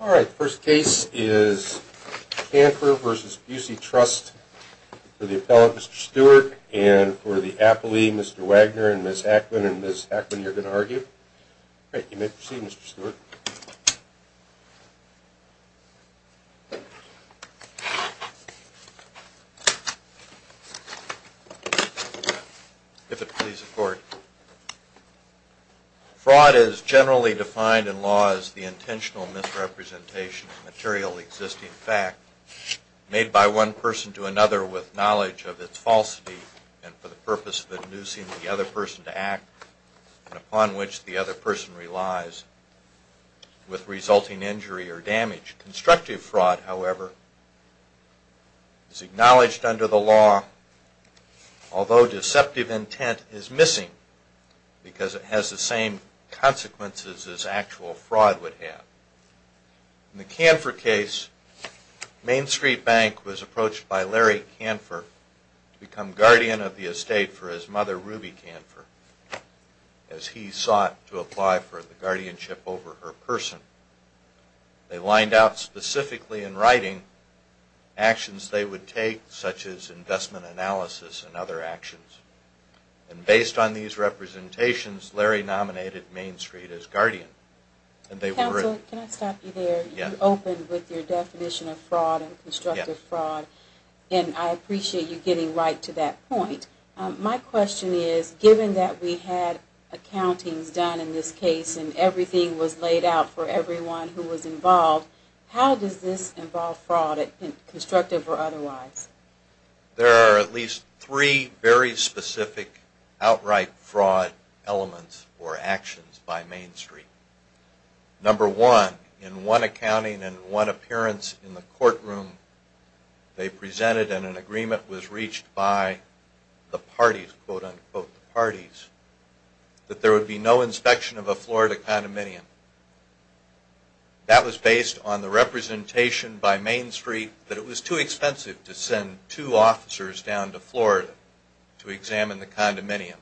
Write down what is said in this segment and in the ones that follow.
Alright, the first case is Kanfer v. Busey Trust. For the appellant, Mr. Stewart, and for the appellee, Mr. Wagner and Ms. Ackman. And Ms. Ackman, you're going to argue. Alright, you may proceed, Mr. Stewart. If it please the court. Fraud is generally defined in law as the intentional misrepresentation of material existing fact made by one person to another with knowledge of its falsity and for the purpose of inducing the other person to act and upon which the other person relies with resulting injury or damage. Constructive fraud, however, is acknowledged under the law although deceptive intent is missing because it has the same consequences as actual fraud would have. In the Kanfer case, Main Street Bank was approached by Larry Kanfer to become guardian of the estate for his mother, Ruby Kanfer, as he sought to apply for the guardianship over her person. They lined out specifically in writing actions they would take, such as investment analysis and other actions. And based on these representations, Larry nominated Main Street as guardian. Counsel, can I stop you there? You opened with your definition of fraud and constructive fraud and I appreciate you getting right to that point. My question is, given that we had accountings done in this case and everything was laid out for everyone who was involved, how does this involve fraud, constructive or otherwise? There are at least three very specific outright fraud elements or actions by Main Street. Number one, in one accounting and one appearance in the courtroom they presented and an agreement was reached by the parties, quote unquote, the parties, that there would be no inspection of a Florida condominium. That was based on the representation by Main Street that it was too expensive to send two officers down to Florida to examine the condominium.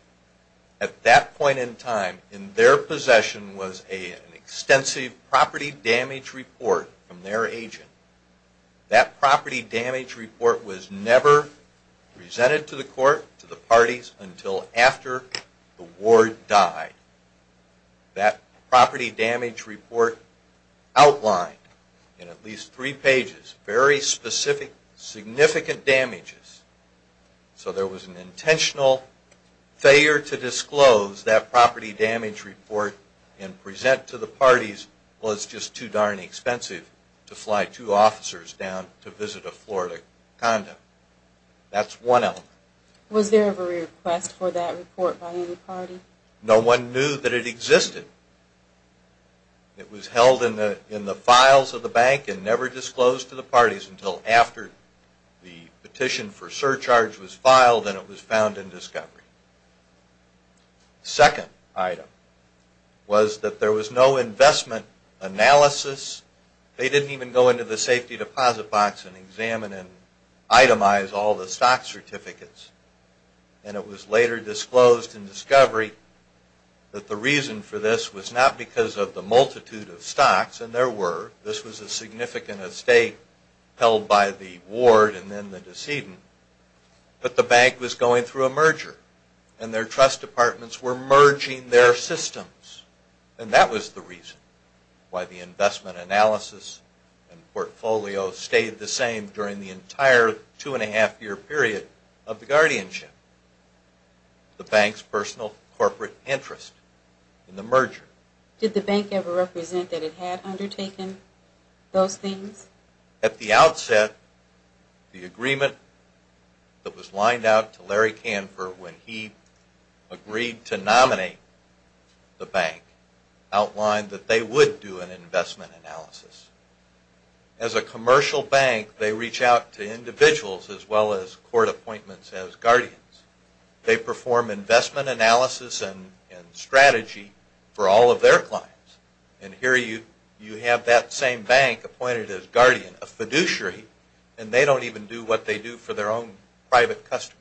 At that point in time, in their possession was an extensive property damage report from their agent. That property damage report was never presented to the court, to the parties, until after the ward died. That property damage report outlined in at least three pages very specific, significant damages. So there was an intentional failure to disclose that property damage report and present to the parties, well it's just too darn expensive to fly two officers down to visit a Florida condo. That's one element. Was there ever a request for that report by any party? No one knew that it existed. It was held in the files of the bank and never disclosed to the parties until after the petition for surcharge was filed and it was found in discovery. Second item was that there was no investment analysis. They didn't even go into the safety deposit box and examine and itemize all the stock certificates. And it was later disclosed in discovery that the reason for this was not because of the multitude of stocks, and there were. This was a significant estate held by the ward and then the decedent, but the bank was going through a merger and their trust departments were merging their systems. during the entire two-and-a-half-year period of the guardianship, the bank's personal corporate interest in the merger. Did the bank ever represent that it had undertaken those things? At the outset, the agreement that was lined out to Larry Kanfer when he agreed to nominate the bank outlined that they would do an investment analysis. As a commercial bank, they reach out to individuals as well as court appointments as guardians. They perform investment analysis and strategy for all of their clients. And here you have that same bank appointed as guardian, a fiduciary, and they don't even do what they do for their own private customers.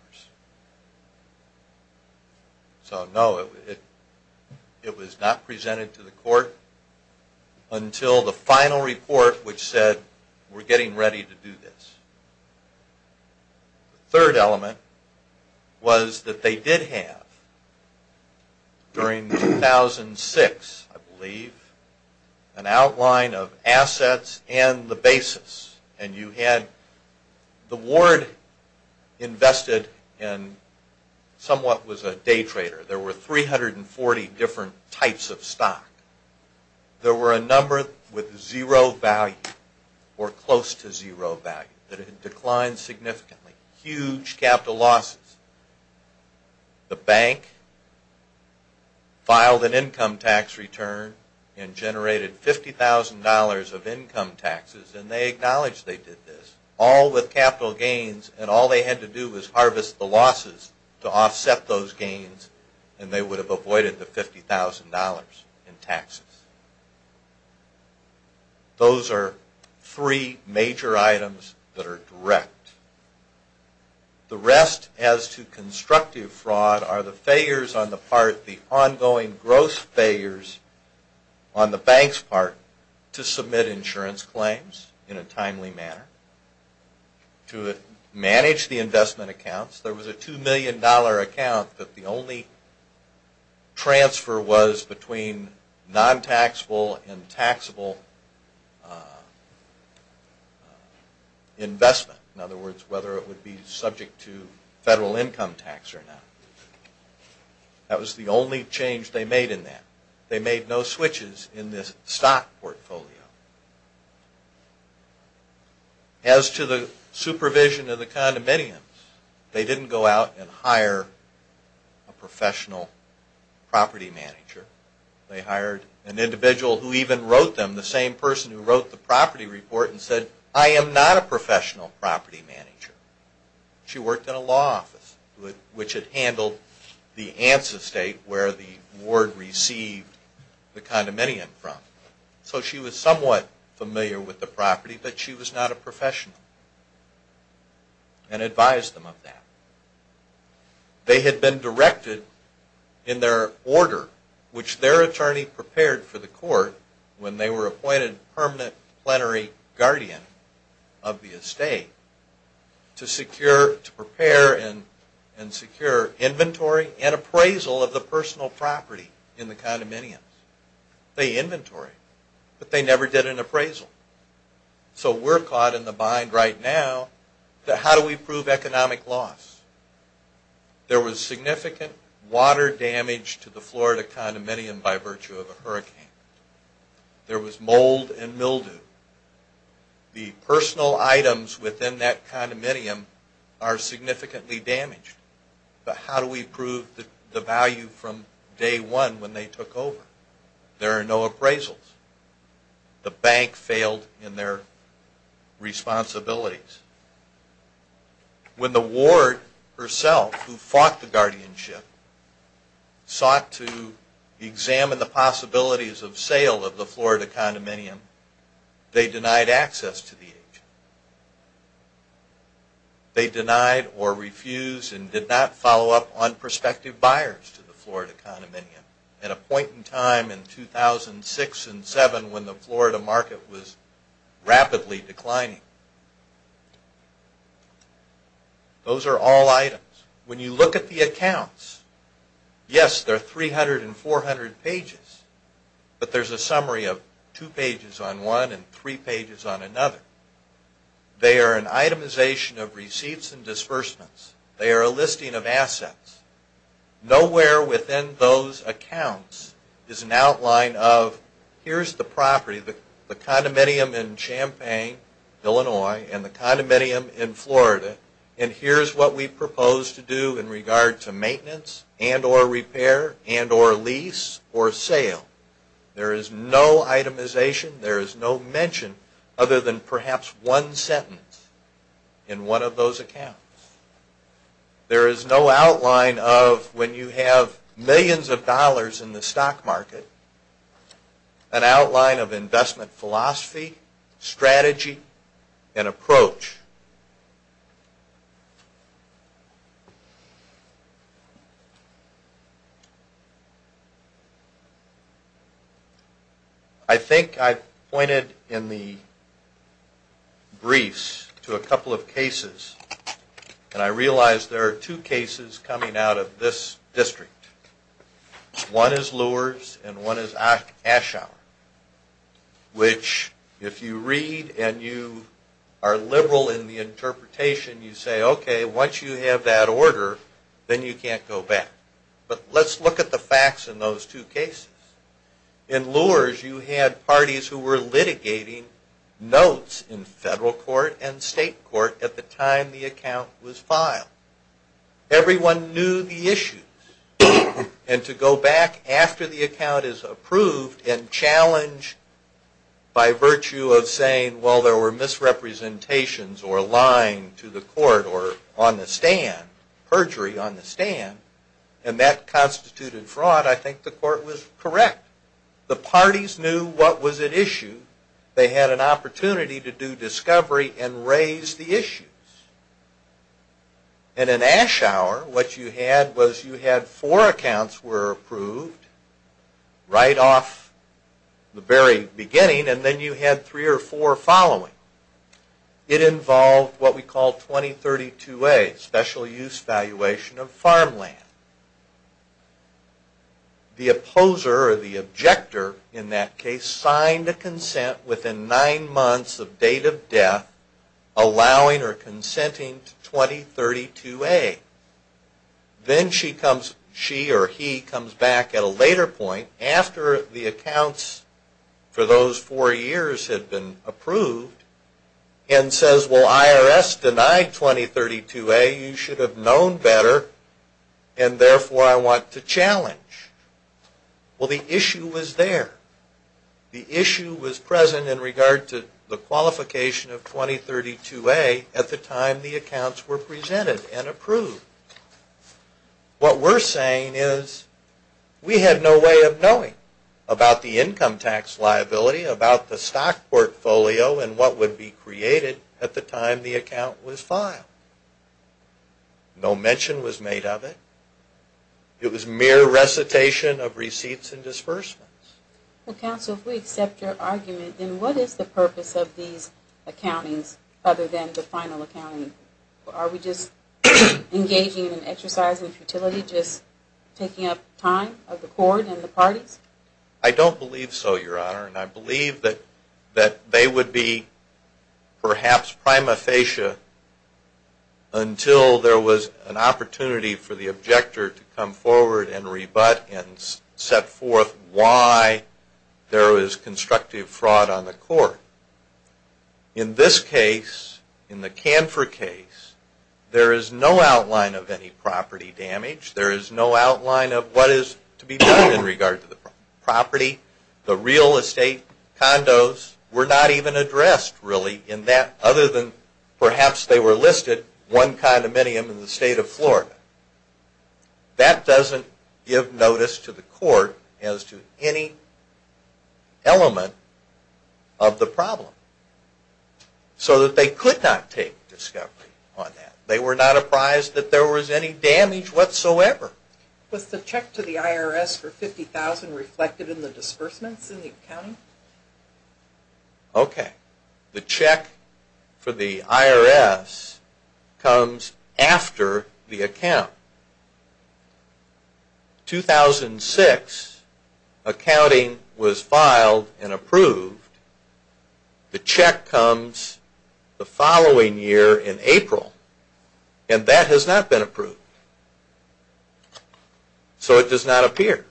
So, no, it was not presented to the court until the final report which said, we're getting ready to do this. The third element was that they did have, during 2006, I believe, an outline of assets and the basis, and you had the ward invested in somewhat was a day trader. There were 340 different types of stock. There were a number with zero value or close to zero value that had declined significantly, huge capital losses. The bank filed an income tax return and generated $50,000 of income taxes and they acknowledged they did this, all with capital gains, and all they had to do was harvest the losses to offset those gains and they would have avoided the $50,000 in taxes. Those are three major items that are direct. The rest as to constructive fraud are the failures on the part, in a timely manner, to manage the investment accounts. There was a $2 million account that the only transfer was between non-taxable and taxable investment. In other words, whether it would be subject to federal income tax or not. That was the only change they made in that. They made no switches in this stock portfolio. As to the supervision of the condominiums, they didn't go out and hire a professional property manager. They hired an individual who even wrote them, the same person who wrote the property report and said, I am not a professional property manager. She worked in a law office which had handled the ancestate where the ward received the condominium from. So she was somewhat familiar with the property, but she was not a professional and advised them of that. They had been directed in their order, which their attorney prepared for the court when they were appointed permanent plenary guardian of the estate, to secure, to prepare and secure inventory and appraisal of the personal property in the condominiums. They inventoried, but they never did an appraisal. So we're caught in the bind right now that how do we prove economic loss? There was significant water damage to the Florida condominium by virtue of a hurricane. There was mold and mildew. The personal items within that condominium are significantly damaged, but how do we prove the value from day one when they took over? There are no appraisals. The bank failed in their responsibilities. When the ward herself, who fought the guardianship, sought to examine the possibilities of sale of the Florida condominium, they denied access to the agent. They denied or refused and did not follow up on prospective buyers to the Florida condominium at a point in time in 2006 and 2007 when the Florida market was rapidly declining. Those are all items. When you look at the accounts, yes, there are 300 and 400 pages, but there's a summary of two pages on one and three pages on another. They are an itemization of receipts and disbursements. They are a listing of assets. Nowhere within those accounts is an outline of here's the property, the condominium in Champaign, Illinois, and the condominium in Florida, and here's what we propose to do in regard to maintenance and or repair and or lease or sale. There is no itemization. There is no mention other than perhaps one sentence in one of those accounts. There is no outline of when you have millions of dollars in the stock market, an outline of investment philosophy, strategy, and approach. I think I pointed in the briefs to a couple of cases, and I realize there are two cases coming out of this district. One is Luer's and one is Aschauer, which if you read and you are liberal in the interpretation, you say, okay, once you have that order, then you can't go back. But let's look at the facts in those two cases. In Luer's, you had parties who were litigating notes in federal court and state court at the time the account was filed. Everyone knew the issues, and to go back after the account is approved and challenged by virtue of saying, well, there were misrepresentations or lying to the court or on the stand, perjury on the stand, and that constituted fraud, I think the court was correct. The parties knew what was at issue. And in Aschauer, what you had was you had four accounts were approved right off the very beginning, and then you had three or four following. It involved what we call 2032A, special use valuation of farmland. The opposer or the objector in that case signed a consent within nine months of date of death allowing or consenting to 2032A. Then she comes, she or he comes back at a later point after the accounts for those four years had been approved and says, well, IRS denied 2032A. You should have known better, and therefore I want to challenge. Well, the issue was there. The issue was present in regard to the qualification of 2032A at the time the accounts were presented and approved. What we're saying is we had no way of knowing about the income tax liability, about the stock portfolio, and what would be created at the time the account was filed. No mention was made of it. It was mere recitation of receipts and disbursements. Well, counsel, if we accept your argument, then what is the purpose of these accountings other than the final accounting? Are we just engaging in an exercise in futility, just taking up time of the court and the parties? I don't believe so, Your Honor, and I believe that they would be perhaps prima facie until there was an opportunity for the objector to come forward and rebut and set forth why there was constructive fraud on the court. In this case, in the Canfor case, there is no outline of any property damage. There is no outline of what is to be done in regard to the property. The real estate condos were not even addressed really in that, other than perhaps they were listed one condominium in the state of Florida. That doesn't give notice to the court as to any element of the problem, so that they could not take discovery on that. They were not apprised that there was any damage whatsoever. Was the check to the IRS for $50,000 reflected in the disbursements in the accounting? Okay. The check for the IRS comes after the account. In 2006, accounting was filed and approved. The check comes the following year in April, and that has not been approved. So it does not appear.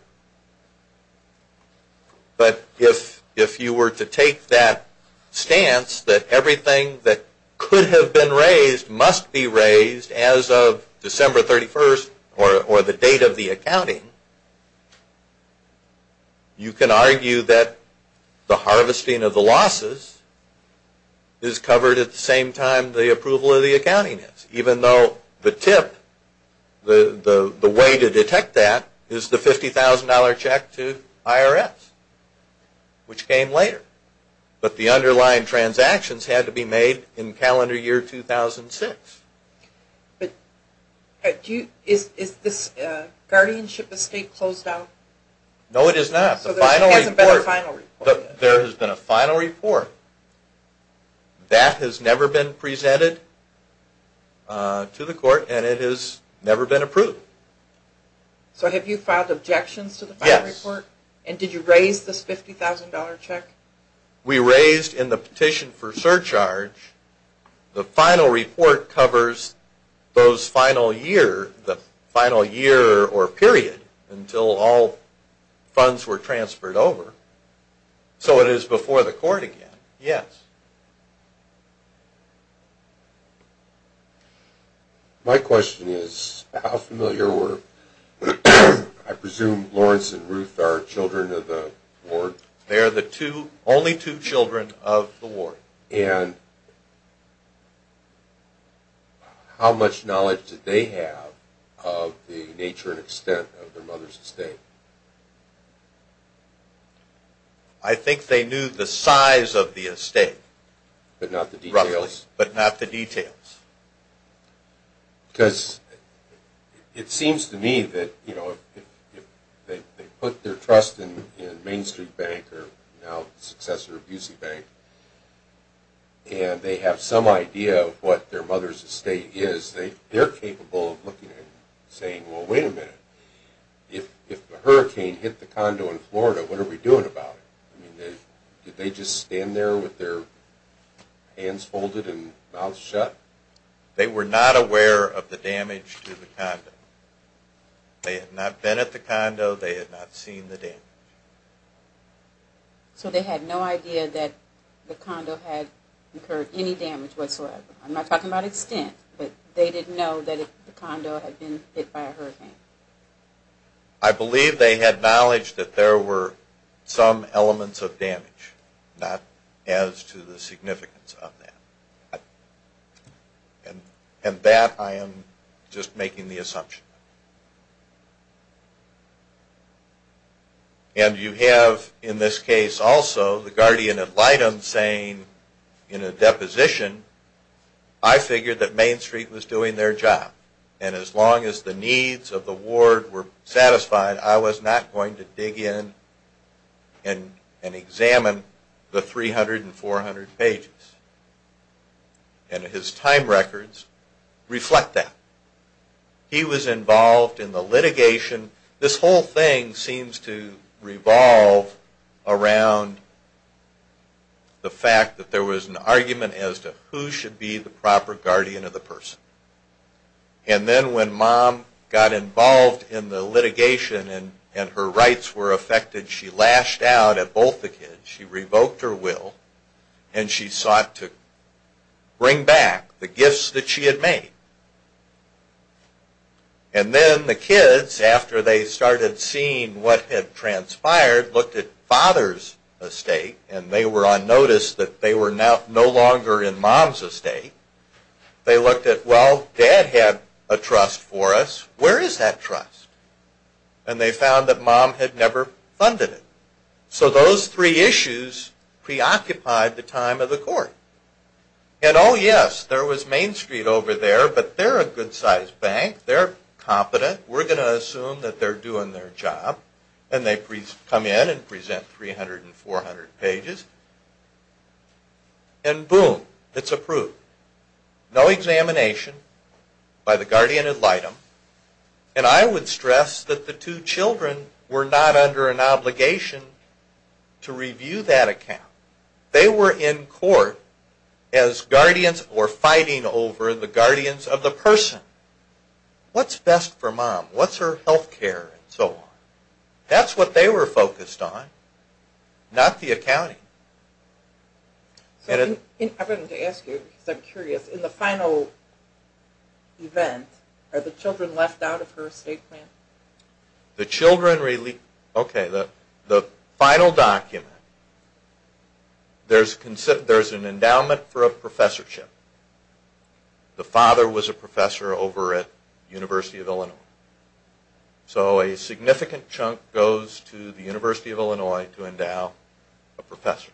But if you were to take that stance that everything that could have been raised must be raised as of December 31st or the date of the accounting, you can argue that the harvesting of the losses is covered at the same time the approval of the accounting is, even though the tip, the way to detect that, is the $50,000 check to IRS, which came later. But the underlying transactions had to be made in calendar year 2006. But is this guardianship estate closed out? No, it is not. So there hasn't been a final report yet? There has been a final report. That has never been presented to the court, and it has never been approved. So have you filed objections to the final report? Yes. And did you raise this $50,000 check? We raised in the petition for surcharge the final report covers those final year, the final year or period until all funds were transferred over. So it is before the court again? Yes. My question is, how familiar were, I presume, Lawrence and Ruth are children of the ward? They are the only two children of the ward. And how much knowledge did they have of the nature and extent of their mother's estate? I think they knew the size of the estate. But not the details? Roughly. But not the details. Because it seems to me that if they put their trust in Main Street Bank, now the successor of UC Bank, and they have some idea of what their mother's estate is, they are capable of looking at it and saying, well, wait a minute. If the hurricane hit the condo in Florida, what are we doing about it? Did they just stand there with their hands folded and mouths shut? They were not aware of the damage to the condo. They had not been at the condo. They had not seen the damage. So they had no idea that the condo had incurred any damage whatsoever. I'm not talking about extent, but they didn't know that the condo had been hit by a hurricane. I believe they had knowledge that there were some elements of damage, not as to the significance of that. And that I am just making the assumption. And you have in this case also the guardian ad litem saying in a deposition, I figured that Main Street was doing their job. And as long as the needs of the ward were satisfied, I was not going to dig in and examine the 300 and 400 pages. And his time records reflect that. He was involved in the litigation. This whole thing seems to revolve around the fact that there was an argument as to who should be the proper guardian of the person. And then when Mom got involved in the litigation and her rights were affected, she lashed out at both the kids. She revoked her will, and she sought to bring back the gifts that she had made. And then the kids, after they started seeing what had transpired, looked at Father's estate, and they were on notice that they were no longer in Mom's estate. They looked at, well, Dad had a trust for us. Where is that trust? And they found that Mom had never funded it. So those three issues preoccupied the time of the court. And oh yes, there was Main Street over there, but they're a good-sized bank. They're competent. We're going to assume that they're doing their job. And they come in and present 300 and 400 pages. And boom, it's approved. No examination by the guardian ad litem. And I would stress that the two children were not under an obligation to review that account. They were in court as guardians or fighting over the guardians of the person. What's best for Mom? What's her health care and so on? That's what they were focused on, not the accounting. I wanted to ask you, because I'm curious, in the final event, are the children left out of her estate plan? The children, okay, the final document, there's an endowment for a professorship. The father was a professor over at the University of Illinois. So a significant chunk goes to the University of Illinois to endow a professor.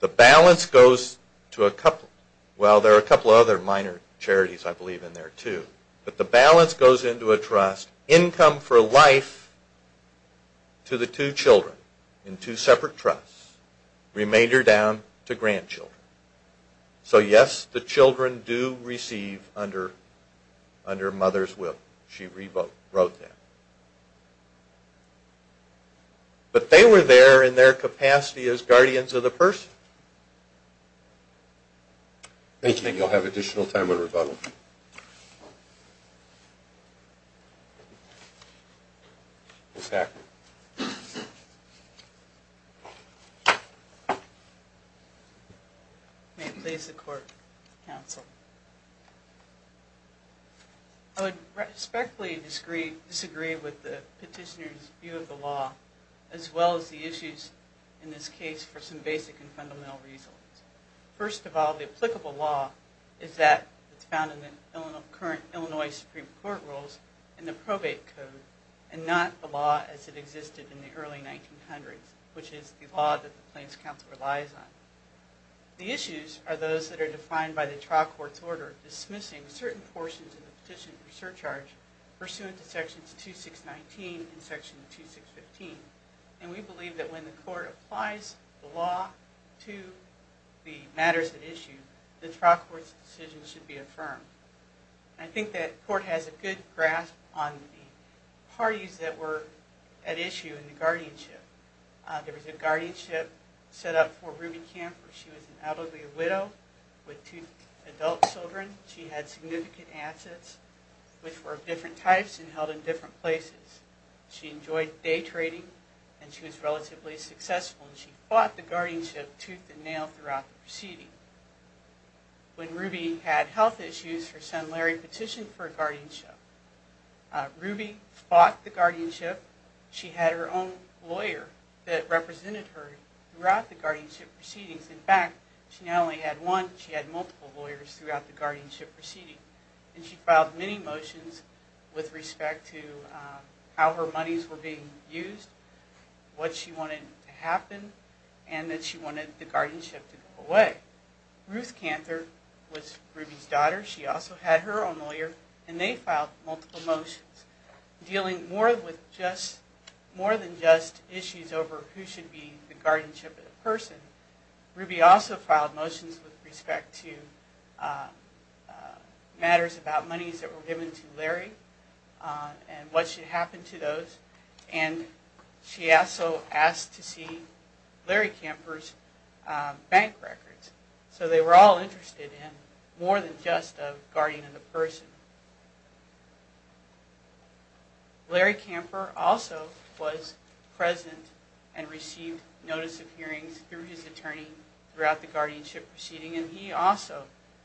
The balance goes to a couple. Well, there are a couple other minor charities, I believe, in there too. But the balance goes into a trust. Income for life to the two children in two separate trusts. Remainder down to grandchildren. So, yes, the children do receive under Mother's will. She rewrote that. But they were there in their capacity as guardians of the person. Thank you. And you'll have additional time on rebuttal. May it please the court, counsel. I would respectfully disagree with the petitioner's view of the law, as well as the issues in this case for some basic and fundamental reasons. First of all, the applicable law is that it's found in the current Illinois Supreme Court rules in the probate code, and not the law as it existed in the early 1900s, which is the law that the plaintiff's counsel relies on. The issues are those that are defined by the trial court's order dismissing certain portions of the petition for surcharge pursuant to sections 2619 and section 2615. And we believe that when the court applies the law to the matters at issue, the trial court's decision should be affirmed. I think that court has a good grasp on the parties that were at issue in the guardianship. There was a guardianship set up for Ruby Camper. She was an elderly widow with two adult children. She had significant assets, which were of different types and held in different places. She enjoyed day trading, and she was relatively successful, and she fought the guardianship tooth and nail throughout the proceeding. When Ruby had health issues, her son Larry petitioned for a guardianship. Ruby fought the guardianship. She had her own lawyer that represented her throughout the guardianship proceedings. In fact, she not only had one, she had multiple lawyers throughout the guardianship proceeding. And she filed many motions with respect to how her monies were being used, what she wanted to happen, and that she wanted the guardianship to go away. Ruth Camper was Ruby's daughter. She also had her own lawyer, and they filed multiple motions dealing more than just issues over who should be the guardianship of the person. Ruby also filed motions with respect to matters about monies that were given to Larry and what should happen to those. And she also asked to see Larry Camper's bank records. So they were all interested in more than just a guardian of the person. Larry Camper also was present and received notice of hearings through his attorney throughout the guardianship proceeding, and he also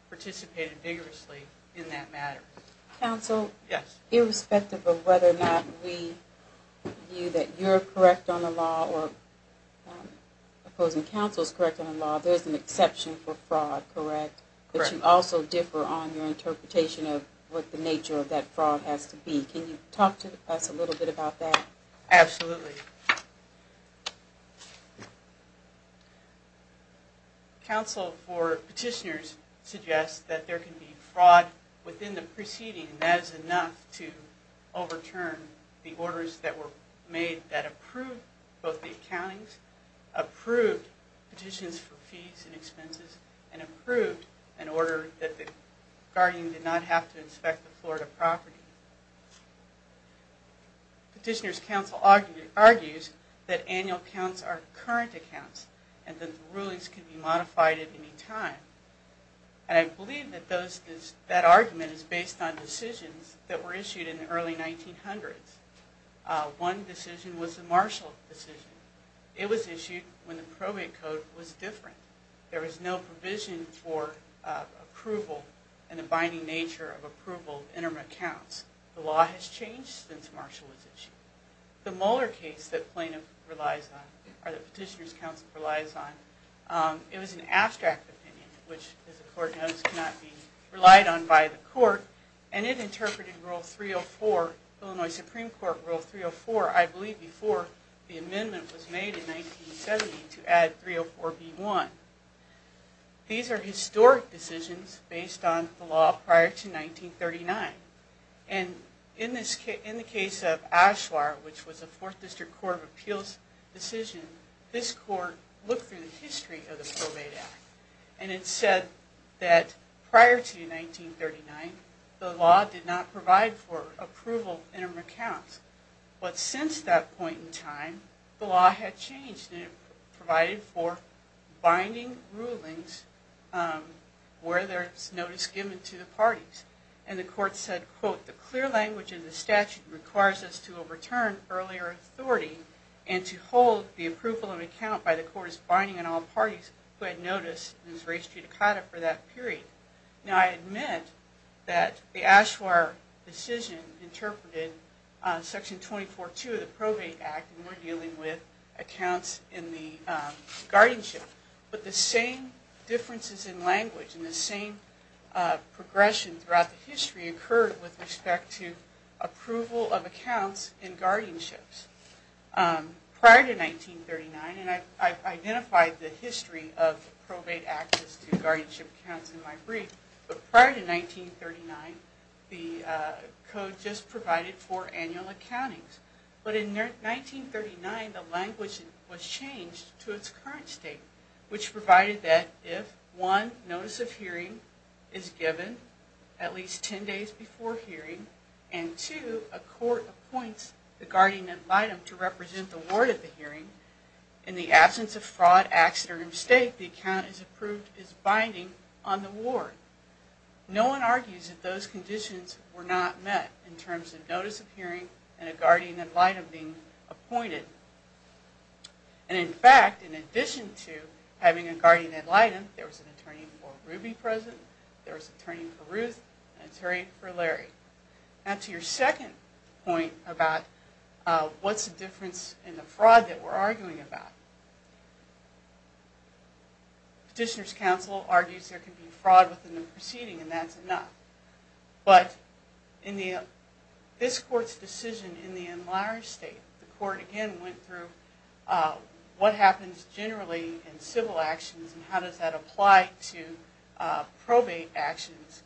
participated vigorously in that matter. Counsel? Yes. Irrespective of whether or not we view that you're correct on the law or opposing counsel's correct on the law, there's an exception for fraud, correct? Correct. But you also differ on your interpretation of what the nature of that fraud has to be. Can you talk to us a little bit about that? Absolutely. Counsel for petitioners suggests that there can be fraud within the proceeding, and that is enough to overturn the orders that were made that approved both the accountings, approved petitions for fees and expenses, and approved an order that the guardian did not have to inspect the Florida property. Petitioners' counsel argues that annual counts are current accounts and that the rulings can be modified at any time. And I believe that that argument is based on decisions that were issued in the early 1900s. One decision was the Marshall decision. It was issued when the probate code was different. There was no provision for approval and the binding nature of approval of interim accounts. The law has changed since Marshall was issued. The Mueller case that plaintiff relies on, or that petitioners' counsel relies on, it was an abstract opinion, which, as the court knows, cannot be relied on by the court, and it interpreted rule 304, Illinois Supreme Court rule 304, I believe, before the amendment was made in 1970 to add 304B1. These are historic decisions based on the law prior to 1939. And in the case of Ashlar, which was a Fourth District Court of Appeals decision, this court looked through the history of the Probate Act, and it said that prior to 1939, the law did not provide for approval of interim accounts. But since that point in time, the law had changed, and it provided for binding rulings where there's notice given to the parties. And the court said, quote, the clear language of the statute requires us to overturn earlier authority and to hold the approval of account by the court's binding on all parties who had notice in res judicata for that period. Now, I admit that the Ashlar decision interpreted Section 24-2 of the Probate Act, and we're dealing with accounts in the guardianship. But the same differences in language and the same progression throughout the history occurred with respect to approval of accounts in guardianships. Prior to 1939, and I've identified the history of Probate Act as to guardianship accounts in my brief, but prior to 1939, the code just provided for annual accountings. But in 1939, the language was changed to its current state, which provided that if, one, notice of hearing is given at least 10 days before hearing, and two, a court appoints the guardian ad litem to represent the ward at the hearing, in the absence of fraud, accident, or mistake, the account is approved as binding on the ward. No one argues that those conditions were not met in terms of notice of hearing and a guardian ad litem being appointed. And in fact, in addition to having a guardian ad litem, there was an attorney for Ruby present, there was an attorney for Ruth, and an attorney for Larry. Now, to your second point about what's the difference in the fraud that we're arguing about. Petitioner's counsel argues there can be fraud within the proceeding, and that's enough. But in this court's decision in the enlarged state, the court again went through what happens generally in civil actions and how does that apply to probate actions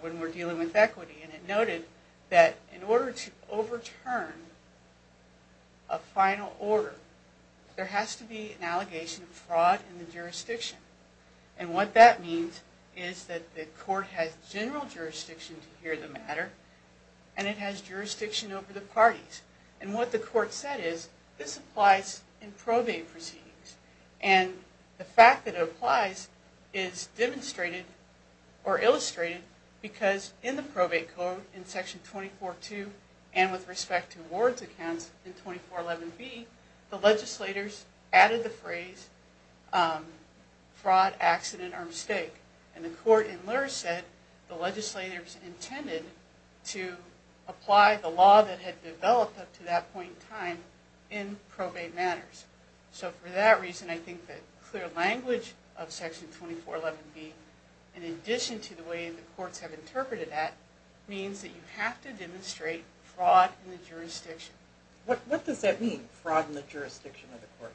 when we're dealing with equity. And it noted that in order to overturn a final order, there has to be an allegation of fraud in the jurisdiction. And what that means is that the court has general jurisdiction to hear the matter, and it has jurisdiction over the parties. And what the court said is, this applies in probate proceedings. And the fact that it applies is demonstrated or illustrated because in the probate code in Section 24.2, and with respect to ward's accounts in 24.11b, the legislators added the phrase, fraud, accident, or mistake. And the court in Lurz said the legislators intended to apply the law that had developed up to that point in time in probate matters. So for that reason, I think that clear language of Section 24.11b, in addition to the way the courts have interpreted that, means that you have to demonstrate fraud in the jurisdiction. What does that mean, fraud in the jurisdiction of the court?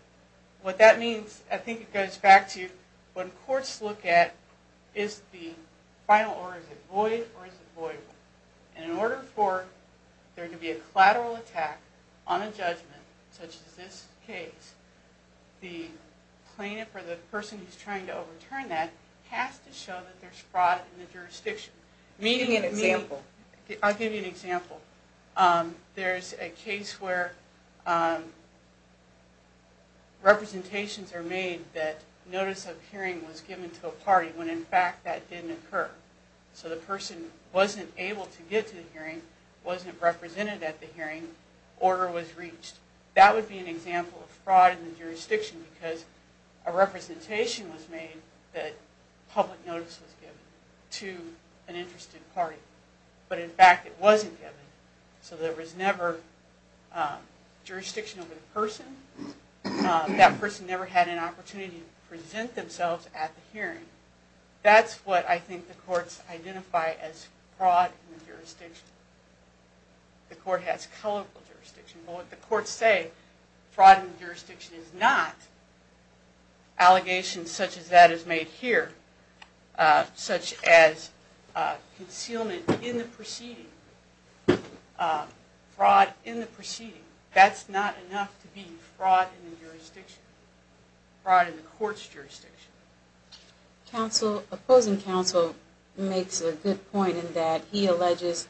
What that means, I think it goes back to when courts look at, is the final order void or is it voidable? And in order for there to be a collateral attack on a judgment, such as this case, the plaintiff or the person who's trying to overturn that has to show that there's fraud in the jurisdiction. Give me an example. I'll give you an example. There's a case where representations are made that notice of hearing was given to a party when, in fact, that didn't occur. So the person wasn't able to get to the hearing, wasn't represented at the hearing, order was reached. That would be an example of fraud in the jurisdiction because a representation was made that public notice was given to an interested party. But, in fact, it wasn't given. So there was never jurisdiction over the person. That person never had an opportunity to present themselves at the hearing. That's what I think the courts identify as fraud in the jurisdiction. The court has colorful jurisdiction. But what the courts say, fraud in the jurisdiction is not. Allegations such as that is made here, such as concealment in the proceeding, fraud in the proceeding, that's not enough to be fraud in the jurisdiction, fraud in the court's jurisdiction. Opposing counsel makes a good point in that he alleges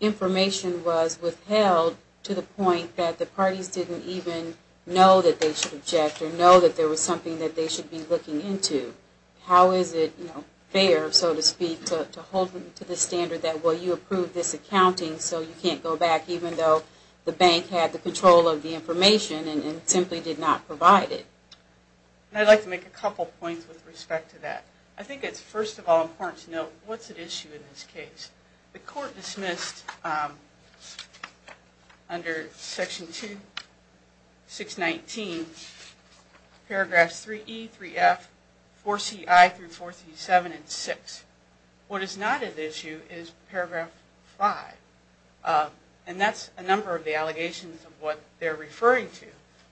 information was withheld to the point that the parties didn't even know that they should object or know that there was something that they should be looking into. How is it fair, so to speak, to hold them to the standard that, well, you approved this accounting so you can't go back, even though the bank had the control of the information and simply did not provide it? I'd like to make a couple points with respect to that. I think it's, first of all, important to note what's at issue in this case. The court dismissed under Section 2, 619, Paragraphs 3E, 3F, 4CI through 437 and 6. What is not at issue is Paragraph 5, and that's a number of the allegations of what they're referring to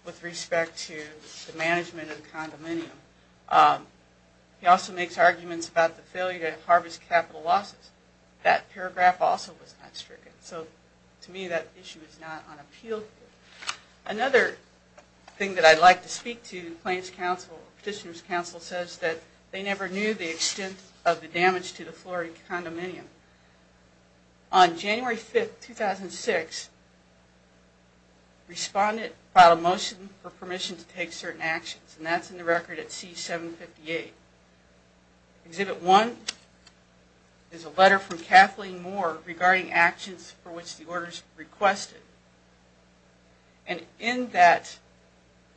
with respect to the management of the condominium. He also makes arguments about the failure to harvest capital losses. That paragraph also was not stricken. So, to me, that issue is not on appeal. Another thing that I'd like to speak to Plaintiff's counsel, Petitioner's counsel, says that they never knew the extent of the damage to the Florida condominium. On January 5, 2006, respondent filed a motion for permission to take certain actions, and that's in the record at C758. Exhibit 1 is a letter from Kathleen Moore regarding actions for which the orders were requested. And in that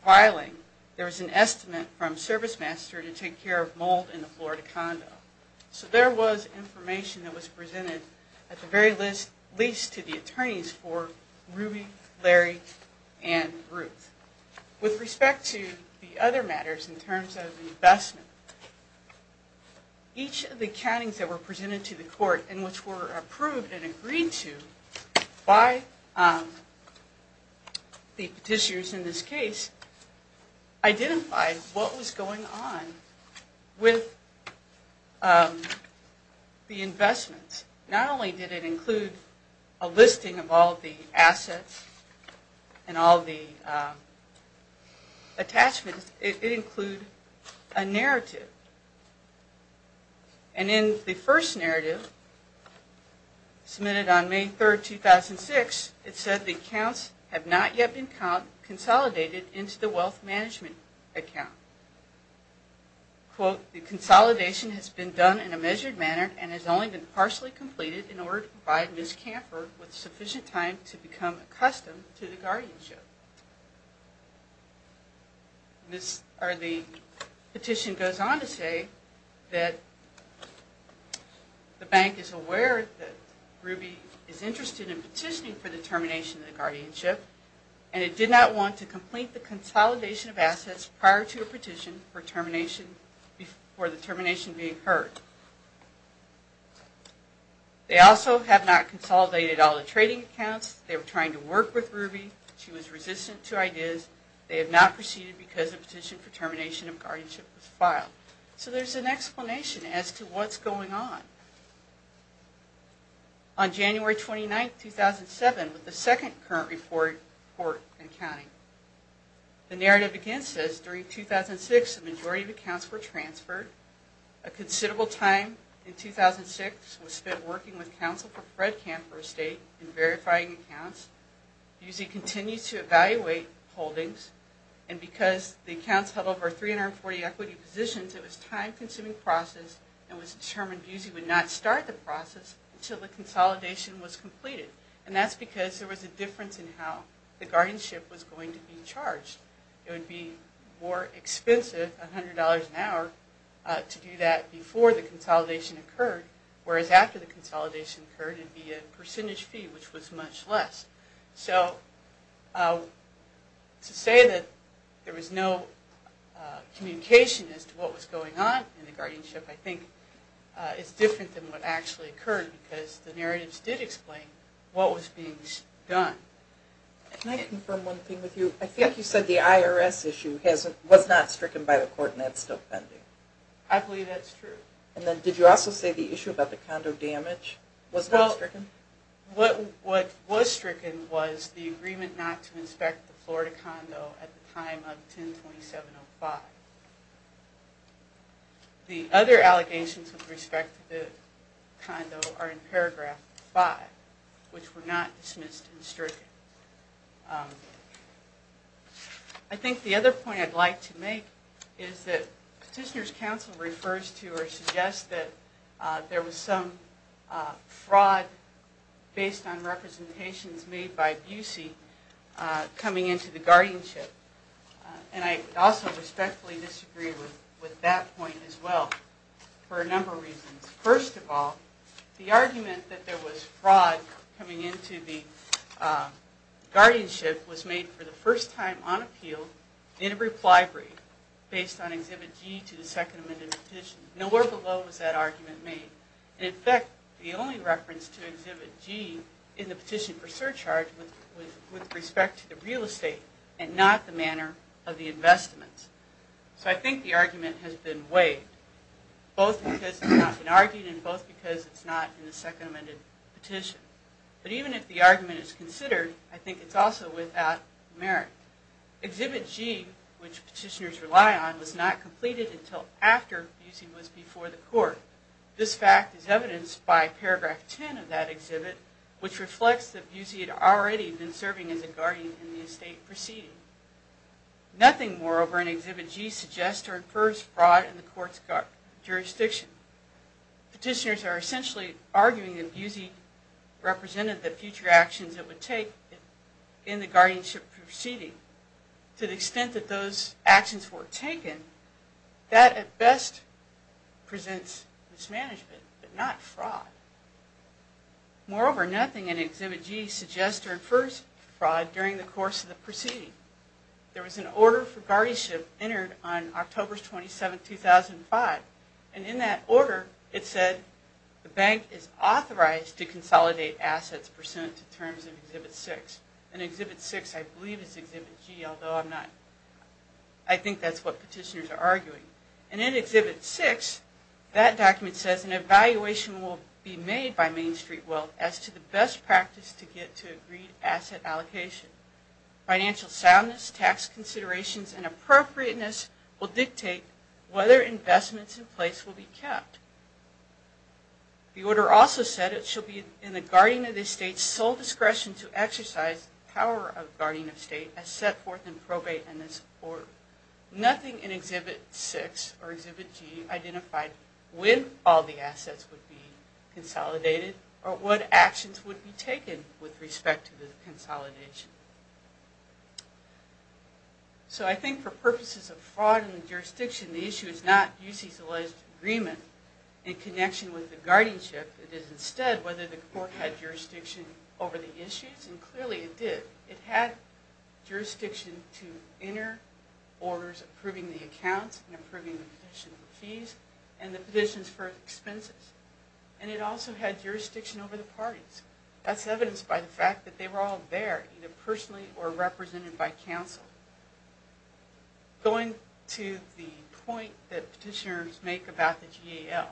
filing, there was an estimate from ServiceMaster to take care of mold in the Florida condo. So there was information that was presented at the very least to the attorneys for Ruby, Larry, and Ruth. With respect to the other matters in terms of investment, each of the countings that were presented to the court and which were approved and agreed to by the petitioners in this case identified what was going on with the investments. Not only did it include a listing of all the assets and all the attachments, it included a narrative. And in the first narrative, submitted on May 3, 2006, it said the accounts have not yet been consolidated into the wealth management account. Quote, the consolidation has been done in a measured manner and has only been partially completed in order to provide Ms. Camper with sufficient time to become accustomed to the guardianship. The petition goes on to say that the bank is aware that Ruby is interested in petitioning for the termination of the guardianship and it did not want to complete the consolidation of assets prior to the petition for the termination being heard. They also have not consolidated all the trading accounts. They were trying to work with Ruby. She was resistant to ideas. They have not proceeded because the petition for termination of guardianship was filed. So there's an explanation as to what's going on. On January 29, 2007, with the second current report in accounting, the narrative again says during 2006, the majority of accounts were transferred. A considerable time in 2006 was spent working with counsel for Fred Camper Estate in verifying accounts. Busey continues to evaluate holdings and because the accounts held over 340 equity positions, it was a time-consuming process and it was determined Busey would not start the process until the consolidation was completed. And that's because there was a difference in how the guardianship was going to be charged. It would be more expensive, $100 an hour, to do that before the consolidation occurred, whereas after the consolidation occurred it would be a percentage fee, which was much less. So to say that there was no communication as to what was going on in the guardianship, I think is different than what actually occurred because the narratives did explain what was being done. Can I confirm one thing with you? I think you said the IRS issue was not stricken by the court and that's still pending. I believe that's true. And then did you also say the issue about the condo damage was not stricken? What was stricken was the agreement not to inspect the Florida condo at the time of 10-2705. The other allegations with respect to the condo are in paragraph 5, which were not dismissed and stricken. I think the other point I'd like to make is that Petitioner's Counsel refers to or suggests that there was some fraud based on representations made by Busey coming into the guardianship. And I also respectfully disagree with that point as well for a number of reasons. First of all, the argument that there was fraud coming into the guardianship was made for the first time on appeal in a reply brief based on Exhibit G to the Second Amendment Petition. Nowhere below was that argument made. And in fact, the only reference to Exhibit G in the petition for surcharge was with respect to the real estate and not the manner of the investments. So I think the argument has been weighed, both because it's not been argued and both because it's not in the Second Amendment Petition. But even if the argument is considered, I think it's also without merit. Exhibit G, which petitioners rely on, was not completed until after Busey was before the court. This fact is evidenced by paragraph 10 of that exhibit, which reflects that Busey had already been serving as a guardian in the estate proceeding. Nothing, moreover, in Exhibit G suggests or infers fraud in the court's jurisdiction. Petitioners are essentially arguing that Busey represented the future actions it would take in the guardianship proceeding. To the extent that those actions were taken, that at best presents mismanagement, but not fraud. Moreover, nothing in Exhibit G suggests or infers fraud during the course of the proceeding. There was an order for guardianship entered on October 27, 2005, and in that order it said the bank is authorized to consolidate assets pursuant to terms of Exhibit 6. And Exhibit 6, I believe, is Exhibit G, although I think that's what petitioners are arguing. And in Exhibit 6, that document says an evaluation will be made by Main Street Wealth as to the best practice to get to agreed asset allocation. Financial soundness, tax considerations, and appropriateness will dictate whether investments in place will be kept. The order also said it should be in the guardian of the state's sole discretion to exercise the power of guardian of state as set forth in probate in this court. Nothing in Exhibit 6 or Exhibit G identified when all the assets would be consolidated or what actions would be taken with respect to the consolidation. So I think for purposes of fraud in the jurisdiction, the issue is not Busey's alleged agreement in connection with the guardianship. It is instead whether the court had jurisdiction over the issues, and clearly it did. It had jurisdiction to enter orders approving the accounts and approving the petition for fees and the petitions for expenses. And it also had jurisdiction over the parties. That's evidenced by the fact that they were all there, either personally or represented by counsel. Going to the point that petitioners make about the GAL,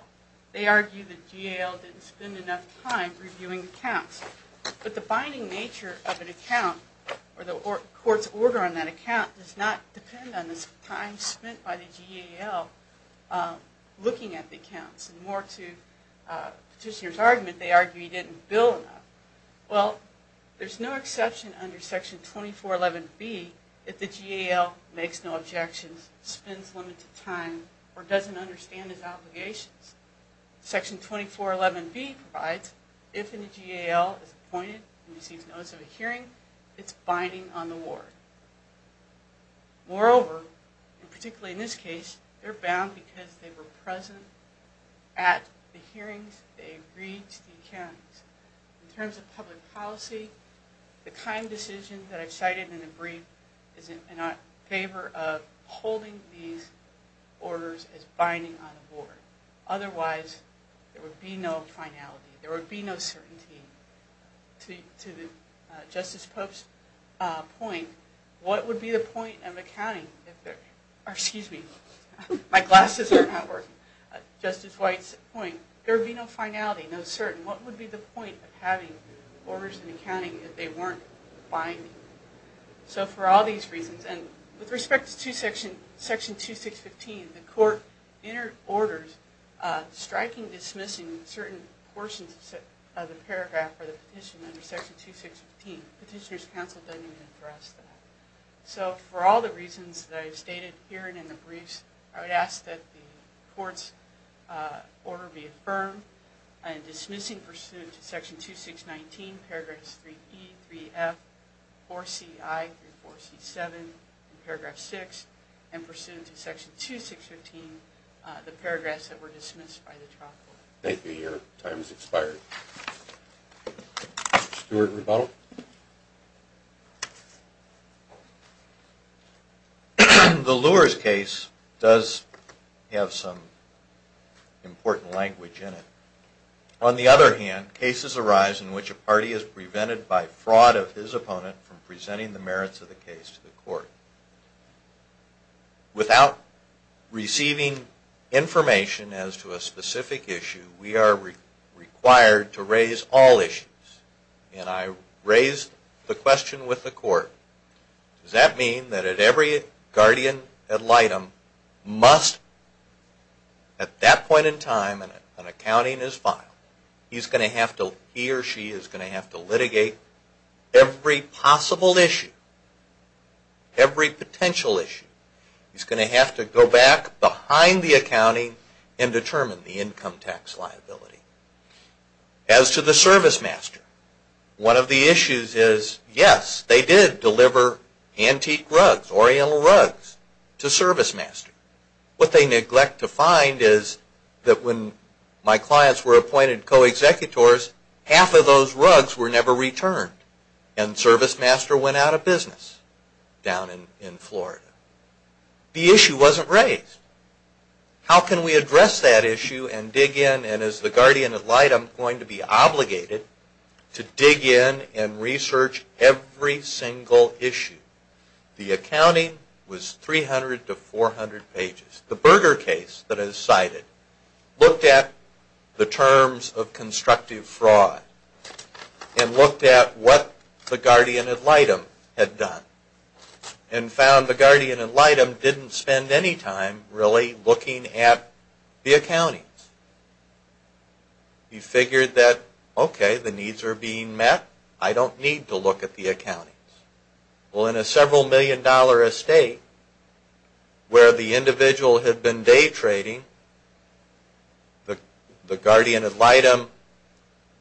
they argue the GAL didn't spend enough time reviewing accounts. But the binding nature of an account, or the court's order on that account, does not depend on the time spent by the GAL looking at the accounts. And more to the petitioner's argument, they argue he didn't bill enough. Well, there's no exception under Section 2411B if the GAL makes no objections, spends limited time, or doesn't understand his obligations. Section 2411B provides, if a GAL is appointed and receives notice of a hearing, it's binding on the ward. Moreover, and particularly in this case, they're bound because they were present at the hearings, they agreed to the accounts. In terms of public policy, the kind decision that I've cited in the brief is in our favor of holding these orders as binding on the board. Otherwise, there would be no finality, there would be no certainty. To Justice Pope's point, what would be the point of accounting if there, or excuse me, my glasses are not working. Justice White's point, there would be no finality, no certainty. What would be the point of having orders in accounting if they weren't binding? So for all these reasons, and with respect to Section 2615, the court entered orders striking dismissing certain portions of the paragraph or the petition under Section 2615. Petitioner's counsel doesn't even address that. So for all the reasons that I've stated here and in the briefs, I would ask that the court's order be affirmed in dismissing pursuant to Section 2619, Paragraphs 3E, 3F, 4CI, 34C7, and Paragraph 6, and pursuant to Section 2615, the paragraphs that were dismissed by the trial court. Thank you. Your time has expired. Stuart Rebuttal. The Lures case does have some important language in it. On the other hand, cases arise in which a party is prevented by fraud of his opponent from presenting the merits of the case to the court. Without receiving information as to a specific issue, we are required to raise all issues. And I raised the question with the court, does that mean that at every guardian ad litem, must at that point in time an accounting is filed, he or she is going to have to litigate every possible issue, every potential issue. He's going to have to go back behind the accounting and determine the income tax liability. As to the service master, one of the issues is, yes, they did deliver antique rugs, Oriental rugs, to service master. What they neglect to find is that when my clients were appointed co-executors, half of those rugs were never returned and service master went out of business down in Florida. The issue wasn't raised. How can we address that issue and dig in and is the guardian ad litem going to be obligated to dig in and research every single issue? The accounting was 300 to 400 pages. The Berger case that I cited looked at the terms of constructive fraud and looked at what the guardian ad litem had done and found the guardian ad litem didn't spend any time really looking at the accountings. He figured that, okay, the needs are being met. I don't need to look at the accountings. Well, in a several million dollar estate where the individual had been day trading, the guardian ad litem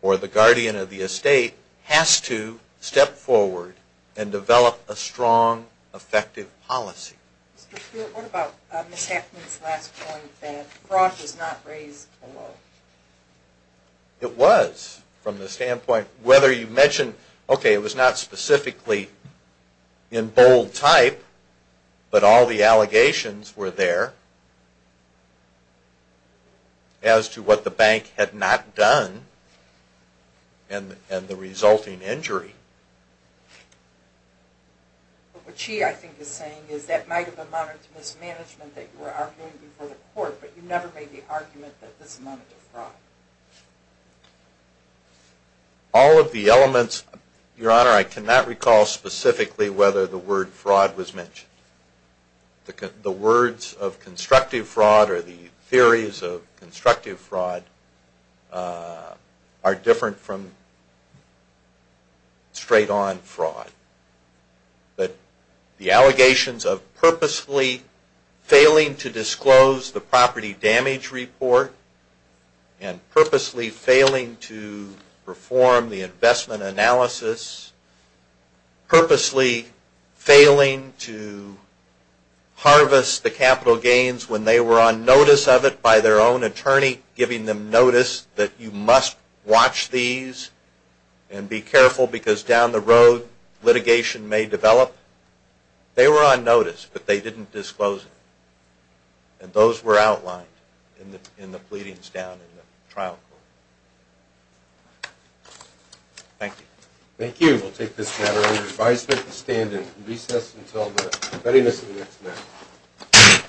or the guardian of the estate has to step forward and develop a strong effective policy. What about Ms. Hackman's last point that fraud was not raised at all? It was from the standpoint whether you mentioned, okay, it was not specifically in bold type, but all the allegations were there as to what the bank had not done and the resulting injury. What she, I think, is saying is that might have amounted to mismanagement that you were arguing before the court, but you never made the argument that this amounted to fraud. I cannot recall specifically whether the word fraud was mentioned. The words of constructive fraud or the theories of constructive fraud are different from straight on fraud. But the allegations of purposely failing to disclose the property damage report and purposely failing to perform the investment analysis, purposely failing to harvest the capital gains when they were on notice of it by their own attorney, giving them notice that you must watch these and be careful because down the road litigation may develop. They were on notice, but they didn't disclose it. And those were outlined in the pleadings down in the trial court. Thank you. Thank you. We'll take this matter under advisement and stand in recess until the readiness of the next matter.